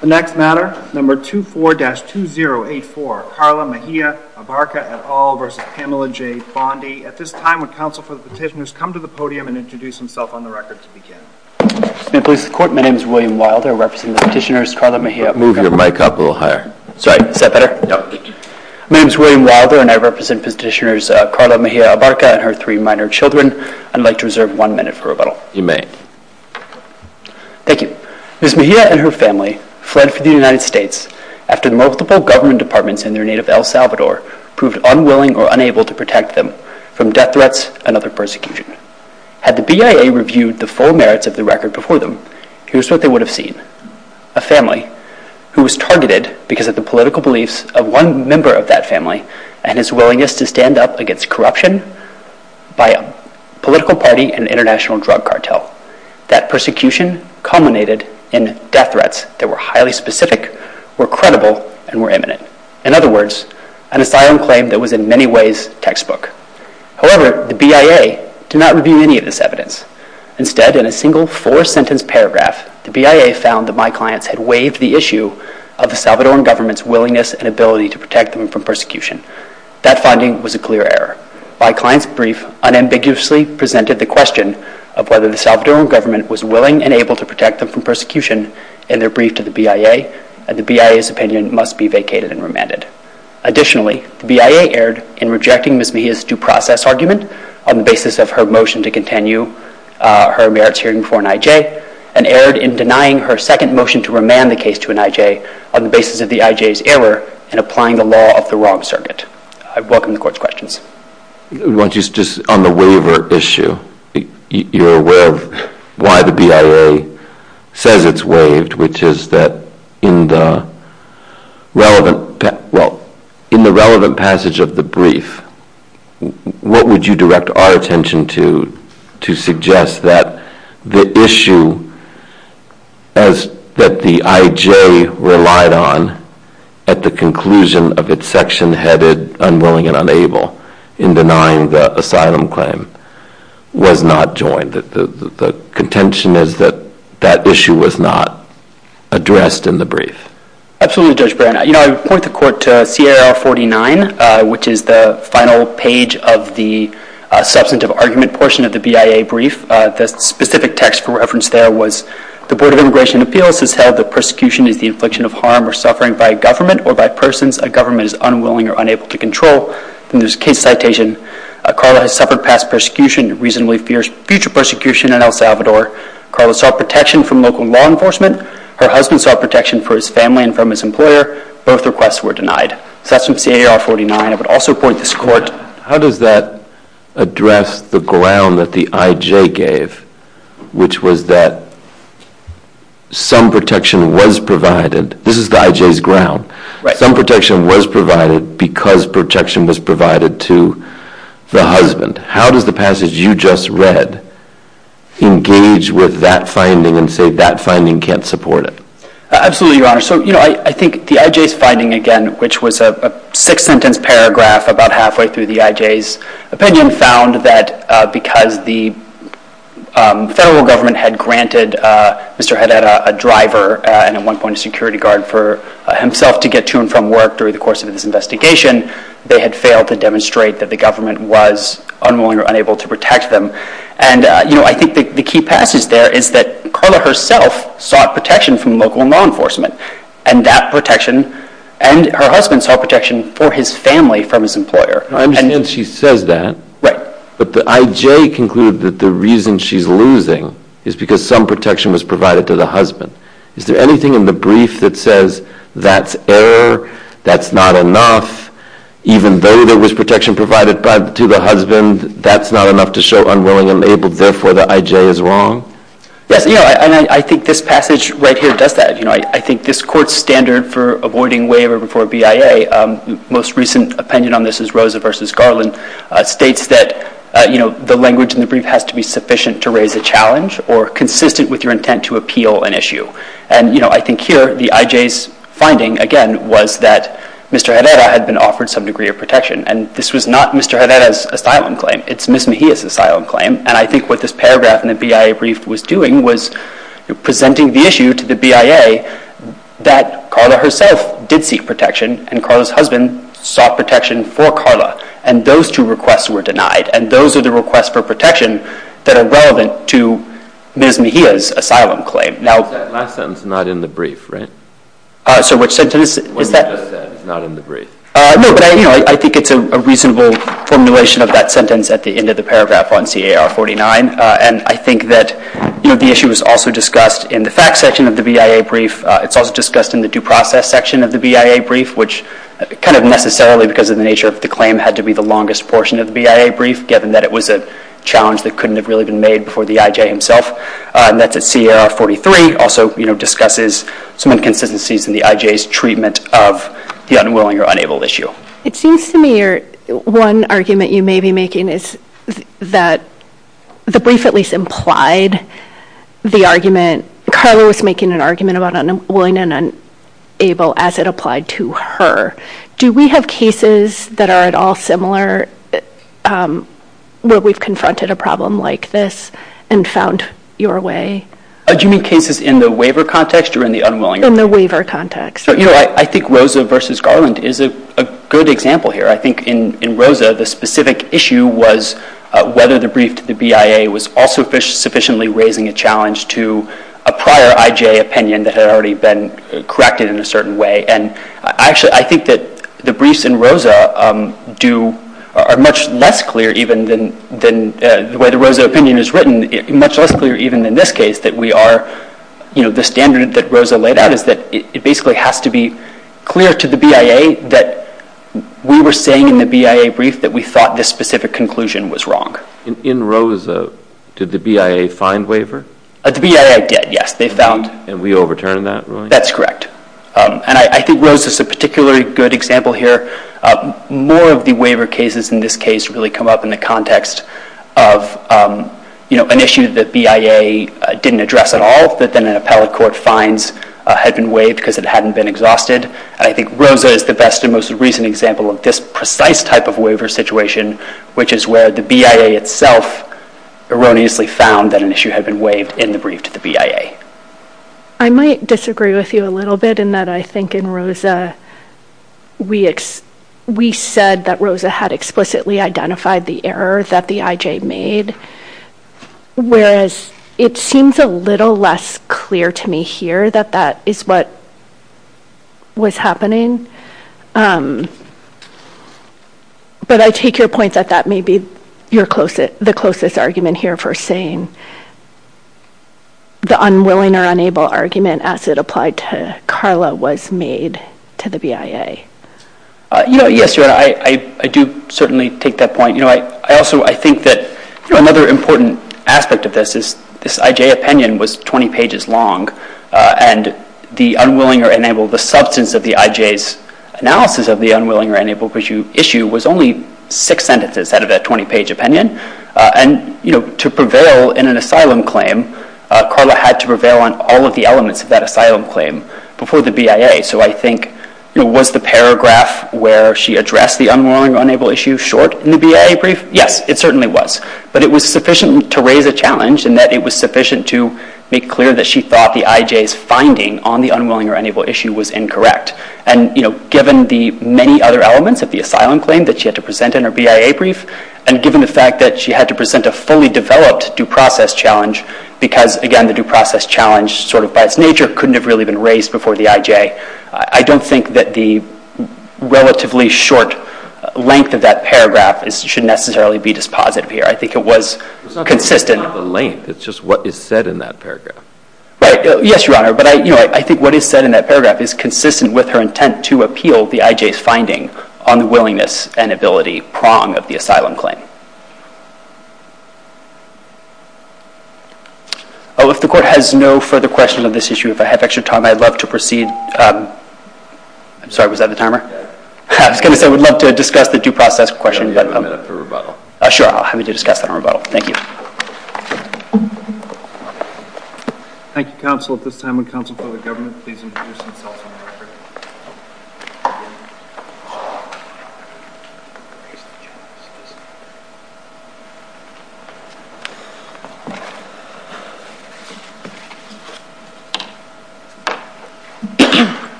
The next matter, number 24-2084, Carla Mejia Abarca et al. v. Pamela J. Bondi. At this time, would counsel for the petitioners come to the podium and introduce themselves on the record to begin. My name is William Wilder, representing the petitioners Carla Mejia Abarca and her three minor children. I'd like to reserve one minute for rebuttal. You may. Thank you. Ms. Mejia and her family fled for the United States after multiple government departments in their native El Salvador proved unwilling or unable to protect them from death threats and other persecution. Had the BIA reviewed the full merits of the record before them, here's what they would have seen. A family who was targeted because of the political beliefs of one member of that family and his willingness to stand up against corruption by a political party and international drug cartel. That persecution culminated in death threats that were highly specific, were credible, and were imminent. In other words, an asylum claim that was in many ways textbook. However, the BIA did not review any of this evidence. Instead, in a single four-sentence paragraph, the BIA found that my clients had waived the issue of the Salvadoran government's willingness and ability to protect them from persecution. That finding was a clear error. My client's brief unambiguously presented the question of whether the Salvadoran government was willing and able to protect them from persecution in their brief to the BIA, and the BIA's opinion must be vacated and remanded. Additionally, the BIA erred in rejecting Ms. Mejia's due process argument on the basis of her motion to continue her merits hearing for an IJ, and erred in denying her second motion to remand the case to an IJ on the basis of the IJ's error in applying the law of the wrong circuit. I welcome the Court's questions. Just on the waiver issue, you're aware of why the BIA says it's waived, which is that in the relevant passage of the brief, what would you direct our attention to to suggest that the issue that the IJ relied on at the conclusion of its section headed unwilling and unable in denying the asylum claim was not joined, that the contention is that that issue was not addressed in the brief? Absolutely, Judge Brand. You know, I would point the Court to CIR 49, which is the final page of the substantive argument portion of the BIA brief. The specific text for reference there was, the Board of Immigration Appeals has held that persecution is the infliction of harm or suffering by a government or by persons a government is unwilling or unable to control. In this case citation, Carla has suffered past persecution, reasonably fierce future persecution in El Salvador. Carla sought protection from local law enforcement. Her husband sought protection for his family and from his employer. Both requests were denied. So that's from CIR 49. I would also point this Court. How does that address the ground that the IJ gave, which was that some protection was provided. This is the IJ's ground. Some protection was provided because protection was provided to the husband. How does the passage you just read engage with that finding and say that finding can't support it? Absolutely, Your Honor. So, you know, I think the IJ's finding again, which was a six-sentence paragraph about halfway through the IJ's opinion, found that because the federal government had granted Mr. Haddad a driver and at one point a security guard for himself to get to and from work during the course of this investigation, they had failed to demonstrate that the government was unwilling or unable to protect them. And, you know, I think the key passage there is that Carla herself sought protection from local law enforcement and that protection and her husband sought protection for his family from his employer. I understand she says that. Right. But the IJ concluded that the reason she's losing is because some protection was provided to the husband. Is there anything in the brief that says that's error, that's not enough, even though there was protection provided to the husband, that's not enough to show unwilling and unable, therefore the IJ is wrong? Yes, you know, and I think this passage right here does that. You know, I think this Court's standard for avoiding waiver before BIA, the most recent opinion on this is Rosa v. Garland, states that, you know, the language in the brief has to be sufficient to raise a challenge or consistent with your intent to appeal an issue. And, you know, I think here the IJ's finding, again, was that Mr. Haddad had been offered some degree of protection. And this was not Mr. Haddad's asylum claim. It's Ms. Mejia's asylum claim. And I think what this paragraph in the BIA brief was doing was presenting the issue to the BIA that Carla herself did seek protection and Carla's husband sought protection for Carla. And those two requests were denied. And those are the requests for protection that are relevant to Ms. Mejia's asylum claim. Now, is that last sentence not in the brief, right? Sir, which sentence is that? What you just said is not in the brief. No, but, you know, I think it's a reasonable formulation of that sentence at the end of the paragraph on C.A.R. 49. And I think that, you know, the issue was also discussed in the facts section of the BIA brief. It's also discussed in the due process section of the BIA brief, which kind of necessarily because of the nature of the claim had to be the longest portion of the BIA brief given that it was a challenge that couldn't have really been made before the IJ himself. And that's at C.A.R. 43, also, you know, It seems to me one argument you may be making is that the brief at least implied the argument. Carla was making an argument about unwilling and unable as it applied to her. Do we have cases that are at all similar where we've confronted a problem like this and found your way? Do you mean cases in the waiver context or in the unwilling? In the waiver context. You know, I think Rosa v. Garland is a good example here. I think in Rosa, the specific issue was whether the brief to the BIA was also sufficiently raising a challenge to a prior IJ opinion that had already been corrected in a certain way. And actually, I think that the briefs in Rosa are much less clear even than the way the Rosa opinion is written, much less clear even in this case that we are, you know, the standard that Rosa laid out is that it basically has to be clear to the BIA that we were saying in the BIA brief that we thought this specific conclusion was wrong. In Rosa, did the BIA find waiver? The BIA did, yes. They found. And we overturned that ruling? That's correct. And I think Rosa's a particularly good example here. More of the waiver cases in this case really come up in the context of, you know, an issue that BIA didn't address at all that then an appellate court finds had been waived because it hadn't been exhausted. And I think Rosa is the best and most recent example of this precise type of waiver situation, which is where the BIA itself erroneously found that an issue had been waived in the brief to the BIA. I might disagree with you a little bit in that I think in Rosa, we said that Rosa had explicitly identified the error that the IJ made, whereas it seems a little less clear to me here that that is what was happening. But I take your point that that may be the closest argument here for saying the unwilling or unable argument as it applied to Carla was made to the BIA. Yes, I do certainly take that point. I also think that another important aspect of this is this IJ opinion was 20 pages long, and the unwilling or unable, the substance of the IJ's analysis of the unwilling or unable issue was only six sentences out of that 20-page opinion. And to prevail in an asylum claim, Carla had to prevail on all of the elements of that asylum claim before the BIA. So I think was the paragraph where she addressed the unwilling or unable issue short in the BIA brief? Yes, it certainly was. But it was sufficient to raise a challenge in that it was sufficient to make clear that she thought the IJ's finding on the unwilling or unable issue was incorrect. And given the many other elements of the asylum claim that she had to present in her BIA brief, and given the fact that she had to present a fully developed due process challenge, because, again, the due process challenge sort of by its nature couldn't have really been raised before the IJ, I don't think that the relatively short length of that paragraph should necessarily be dispositive here. I think it was consistent. It's not the length. It's just what is said in that paragraph. Right. Yes, Your Honor. But I think what is said in that paragraph is consistent with her intent to appeal the IJ's finding on the willingness and ability prong of the asylum claim. Oh, if the Court has no further questions on this issue, if I have extra time, I'd love to proceed. I'm sorry. Was that the timer? I was going to say I would love to discuss the due process question. I'll give you a minute for rebuttal. Sure. I'll have you discuss that on rebuttal. Thank you. Thank you, counsel. At this time, would counsel for the government please introduce themselves.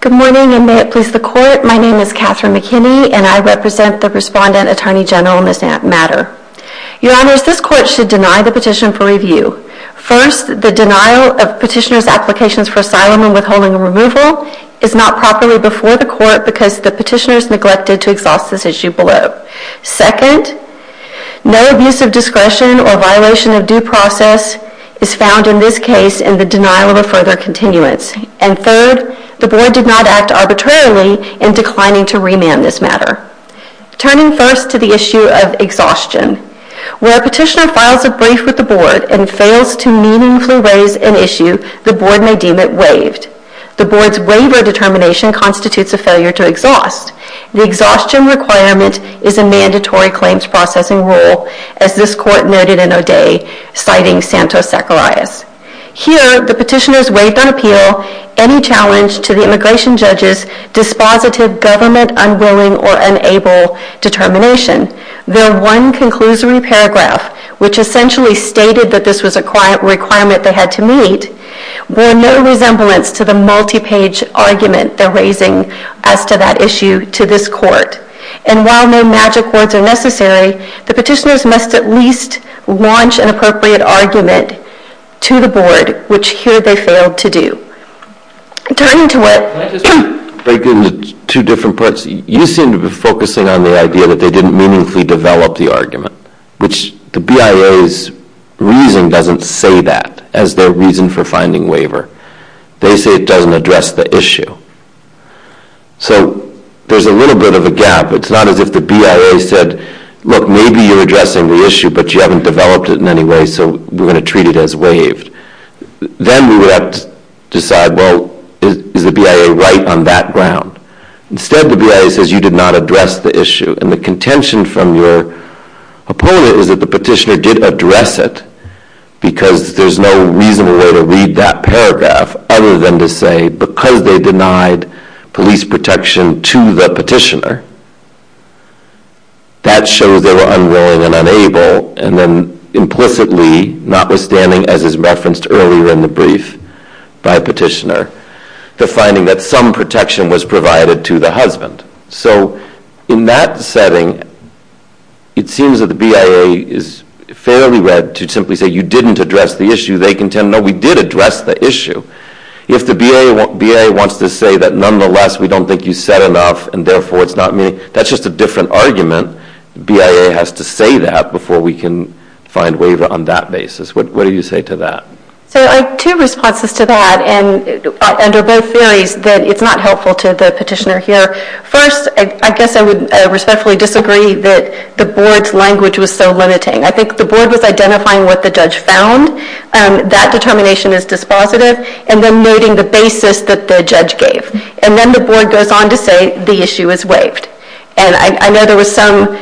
Good morning, and may it please the Court. My name is Catherine McKinney, and I represent the Respondent Attorney General in this matter. Your Honors, this Court should deny the petition for review. First, the denial of petitioner's applications for asylum and withholding removal is not properly before the Court because the petitioner has neglected to exhaust this issue below. Second, no abuse of discretion or violation of due process is found in this case in the denial of a further continuance. And third, the Board did not act arbitrarily in declining to remand this matter. Turning first to the issue of exhaustion, where a petitioner files a brief with the Board and fails to meaningfully raise an issue, the Board may deem it waived. The Board's waiver determination constitutes a failure to exhaust. The exhaustion requirement is a mandatory claims processing rule, as this Court noted in O'Day, citing Santos-Zacharias. Here, the petitioners waived on appeal any challenge to the immigration judge's dispositive government-unwilling or unable determination. Their one conclusory paragraph, which essentially stated that this was a requirement they had to meet, bore no resemblance to the multi-page argument they're raising as to that issue to this Court. And while no magic words are necessary, the petitioners must at least launch an appropriate argument to the Board, which here they failed to do. Turning to where... Can I just break into two different parts? You seem to be focusing on the idea that they didn't meaningfully develop the argument, which the BIA's reason doesn't say that as their reason for finding waiver. They say it doesn't address the issue. So there's a little bit of a gap. It's not as if the BIA said, look, maybe you're addressing the issue, but you haven't developed it in any way, so we're going to treat it as waived. Then we would have to decide, well, is the BIA right on that ground? Instead, the BIA says you did not address the issue. And the contention from your opponent is that the petitioner did address it, because there's no reasonable way to read that paragraph other than to say, because they denied police protection to the petitioner, that shows they were unwilling and unable, and then implicitly, notwithstanding, as is referenced earlier in the brief by a petitioner, the finding that some protection was provided to the husband. So in that setting, it seems that the BIA is fairly read to simply say you didn't address the issue. They contend, no, we did address the issue. If the BIA wants to say that, nonetheless, we don't think you said enough, and therefore it's not me, that's just a different argument. The BIA has to say that before we can find waiver on that basis. What do you say to that? So I have two responses to that, and under both theories, that it's not helpful to the petitioner here. First, I guess I would respectfully disagree that the board's language was so limiting. I think the board was identifying what the judge found, that determination is dispositive, and then noting the basis that the judge gave. And then the board goes on to say the issue is waived. And I know there was some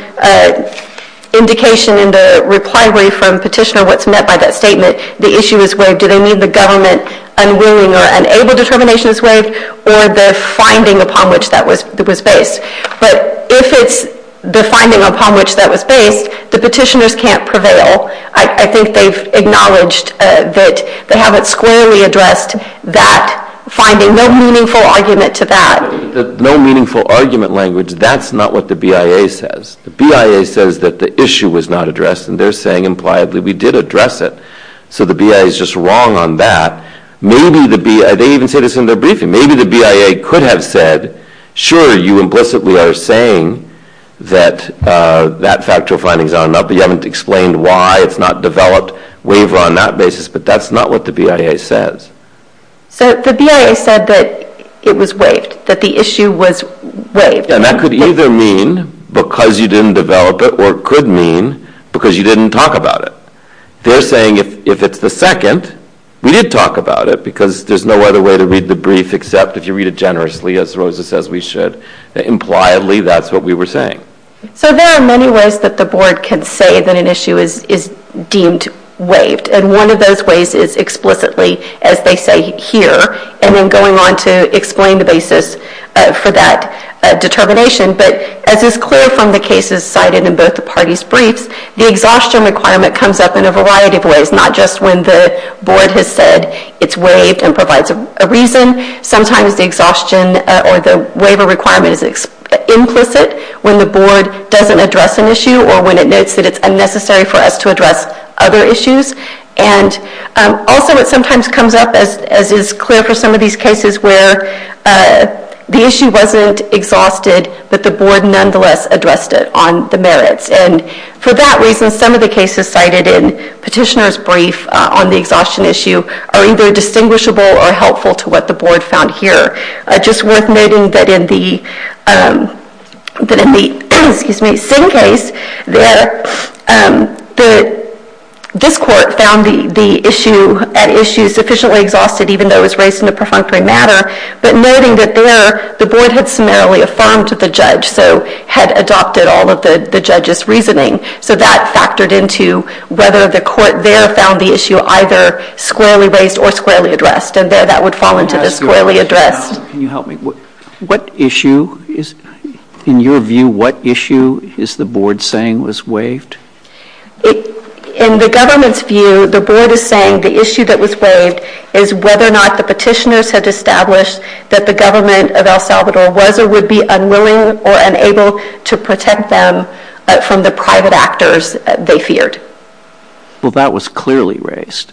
indication in the reply brief from petitioner what's meant by that statement. The issue is waived. Do they mean the government unwilling or unable determination is waived, or the finding upon which that was based? But if it's the finding upon which that was based, the petitioners can't prevail. I think they've acknowledged that they haven't squarely addressed that finding. No meaningful argument to that. No meaningful argument language, that's not what the BIA says. The BIA says that the issue was not addressed, and they're saying impliedly we did address it. So the BIA is just wrong on that. Maybe the BIA, they even say this in their briefing, maybe the BIA could have said, sure, you implicitly are saying that that factual finding is not enough, but you haven't explained why it's not developed, waive on that basis, but that's not what the BIA says. So the BIA said that it was waived, that the issue was waived. And that could either mean because you didn't develop it, or it could mean because you didn't talk about it. They're saying if it's the second, we did talk about it, because there's no other way to read the brief except if you read it generously, as Rosa says we should. Impliedly, that's what we were saying. So there are many ways that the board can say that an issue is deemed waived, and one of those ways is explicitly, as they say here, and then going on to explain the basis for that determination. But as is clear from the cases cited in both the parties' briefs, the exhaustion requirement comes up in a variety of ways, not just when the board has said it's waived and provides a reason. Sometimes the exhaustion or the waiver requirement is implicit when the board doesn't address an issue or when it notes that it's unnecessary for us to address other issues. And also it sometimes comes up, as is clear for some of these cases, where the issue wasn't exhausted, but the board nonetheless addressed it on the merits. And for that reason, some of the cases cited in Petitioner's brief on the exhaustion issue are either distinguishable or helpful to what the board found here. Just worth noting that in the Singh case, this court found the issue sufficiently exhausted, even though it was raised in a perfunctory manner, but noting that there the board had summarily affirmed the judge, so had adopted all of the judge's reasoning. So that factored into whether the court there found the issue either squarely raised or squarely addressed. And there that would fall into the squarely addressed. Can you help me? What issue is, in your view, what issue is the board saying was waived? In the government's view, the board is saying the issue that was waived is whether or not the petitioners had established that the government of El Salvador was or would be unwilling or unable to protect them from the private actors they feared. Well, that was clearly raised.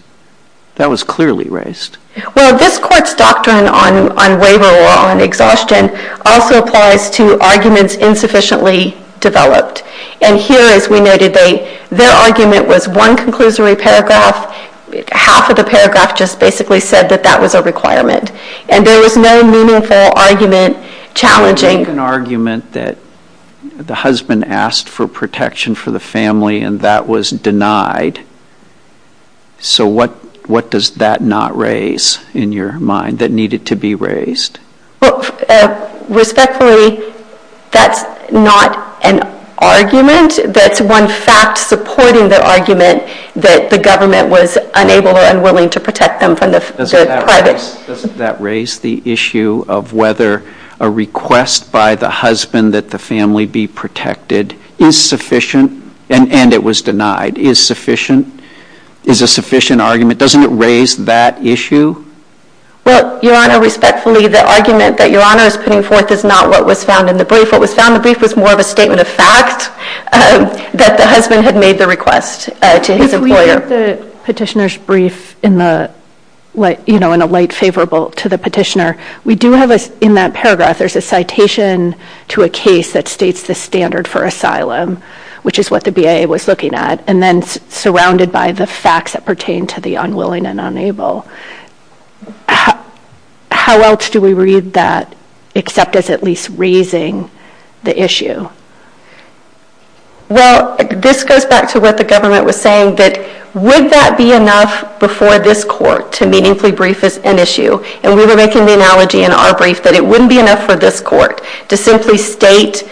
That was clearly raised. Well, this court's doctrine on waiver law and exhaustion also applies to arguments insufficiently developed. And here, as we noted, their argument was one conclusory paragraph. Half of the paragraph just basically said that that was a requirement. And there was no meaningful argument challenging an argument that the husband asked for protection for the family and that was denied. So what does that not raise in your mind that needed to be raised? Respectfully, that's not an argument. That's one fact supporting the argument that the government was unable or unwilling to protect them from the private. Doesn't that raise the issue of whether a request by the husband that the family be protected is sufficient and it was denied is a sufficient argument? Doesn't it raise that issue? Well, Your Honor, respectfully, the argument that Your Honor is putting forth is not what was found in the brief. What was found in the brief was more of a statement of fact that the husband had made the request to his employer. If we look at the petitioner's brief in a light favorable to the petitioner, we do have in that paragraph there's a citation to a case that states the standard for asylum, which is what the BIA was looking at, and then surrounded by the facts that pertain to the unwilling and unable. How else do we read that except as at least raising the issue? Well, this goes back to what the government was saying, that would that be enough before this court to meaningfully brief an issue? And we were making the analogy in our brief that it wouldn't be enough for this court to simply state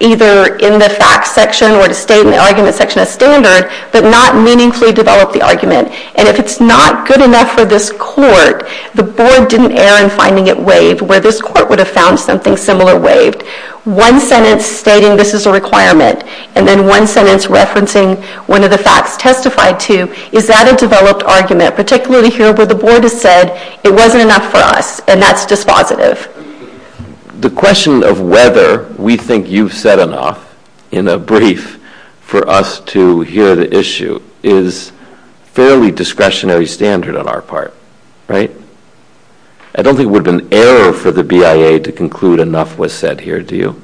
either in the facts section or to state in the argument section a standard but not meaningfully develop the argument. And if it's not good enough for this court, the board didn't err in finding it waived, where this court would have found something similar waived. One sentence stating this is a requirement and then one sentence referencing one of the facts testified to, is that a developed argument, particularly here where the board has said it wasn't enough for us and that's dispositive. The question of whether we think you've said enough in a brief for us to hear the issue is fairly discretionary standard on our part, right? I don't think it would be an error for the BIA to conclude enough was said here, do you?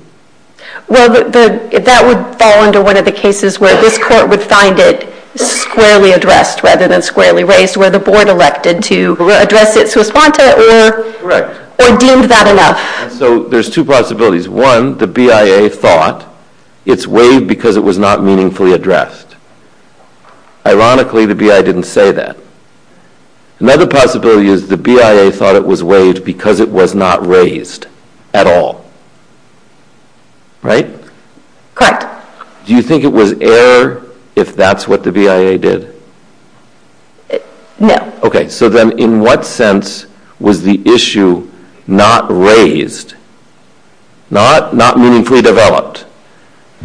Well, that would fall under one of the cases where this court would find it squarely addressed rather than squarely raised where the board elected to address it to respond to it or deemed that enough. So there's two possibilities. One, the BIA thought it's waived because it was not meaningfully addressed. Ironically, the BIA didn't say that. Another possibility is the BIA thought it was waived because it was not raised at all. Right? Correct. Do you think it was error if that's what the BIA did? No. Okay. So then in what sense was the issue not raised? Not meaningfully developed?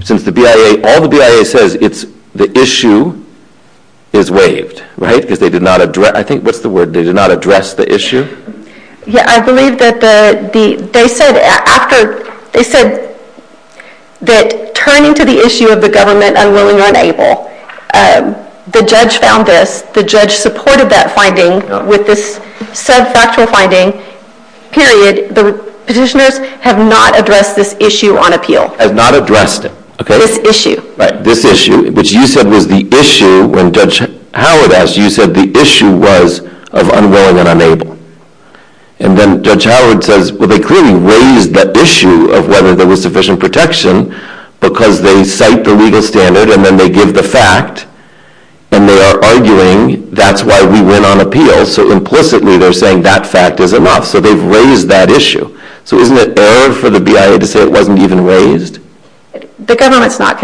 Since all the BIA says it's the issue is waived, right? Because they did not address the issue? Yeah, I believe that they said that turning to the issue of the government unwilling or unable, the judge found this, the judge supported that finding with this sub-factual finding, period. The petitioners have not addressed this issue on appeal. Have not addressed it, okay. This issue. Right, this issue, which you said was the issue when Judge Howard asked, you said the issue was of unwilling and unable. And then Judge Howard says, well they clearly raised the issue of whether there was sufficient protection because they cite the legal standard and then they give the fact and they are arguing that's why we went on appeal. So implicitly they're saying that fact is enough. So they've raised that issue. So isn't it error for the BIA to say it wasn't even raised? The government does not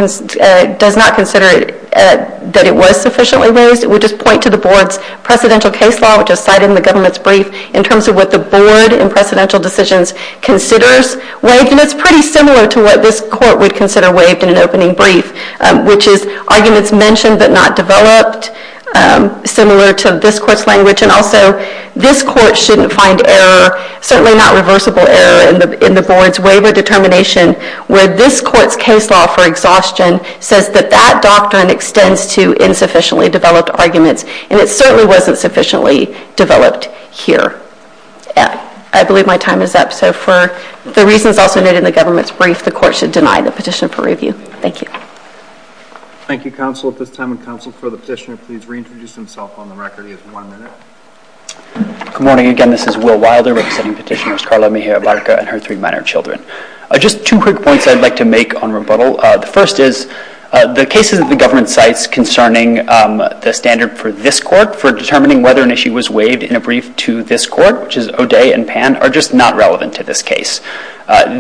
consider that it was sufficiently raised. It would just point to the board's presidential case law, which is cited in the government's brief in terms of what the board in presidential decisions considers waived. And it's pretty similar to what this court would consider waived in an opening brief, which is arguments mentioned but not developed, similar to this court's language. And also this court shouldn't find error, certainly not reversible error, in the board's waiver determination where this court's case law for exhaustion says that that doctrine extends to insufficiently developed arguments. And it certainly wasn't sufficiently developed here. I believe my time is up. So for the reasons also noted in the government's brief, the court should deny the petitioner for review. Thank you. Thank you, counsel, at this time. And counsel, for the petitioner, please reintroduce himself on the record. He has one minute. Good morning. Again, this is Will Wilder representing Petitioners Carla Mejia-Barca and her three minor children. Just two quick points I'd like to make on rebuttal. The first is the cases that the government cites concerning the standard for this court for determining whether an issue was waived in a brief to this court, which is O'Day and Pan, are just not relevant to this case.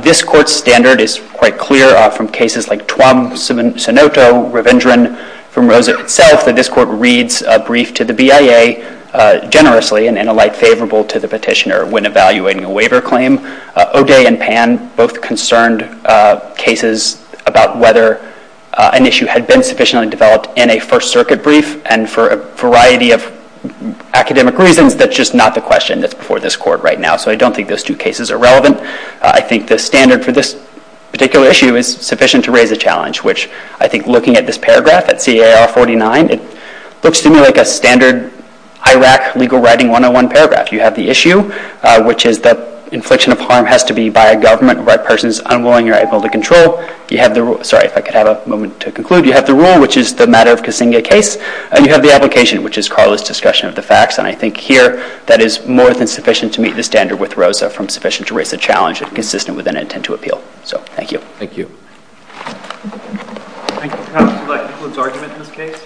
This court's standard is quite clear from cases like Tuam, Senoto, Ravindran, from Rosa itself that this court reads a brief to the BIA generously and in a light favorable to the petitioner when evaluating a waiver claim. O'Day and Pan both concerned cases about whether an issue had been sufficiently developed in a First Circuit brief. And for a variety of academic reasons, that's just not the question that's before this court right now. So I don't think those two cases are relevant. I think the standard for this particular issue is sufficient to raise a challenge, which I think looking at this paragraph at CAR 49, it looks to me like a standard IRAC legal writing 101 paragraph. You have the issue, which is that infliction of harm has to be by a government where a person is unwilling or able to control. You have the rule, sorry, if I could have a moment to conclude. You have the rule, which is the matter of Kasinga case. And you have the application, which is Carla's discussion of the facts. And I think here that is more than sufficient to meet the standard with Rosa from sufficient to raise a challenge and consistent with an intent to appeal. So thank you. Thank you. Counsel, would you like to conclude the argument in this case?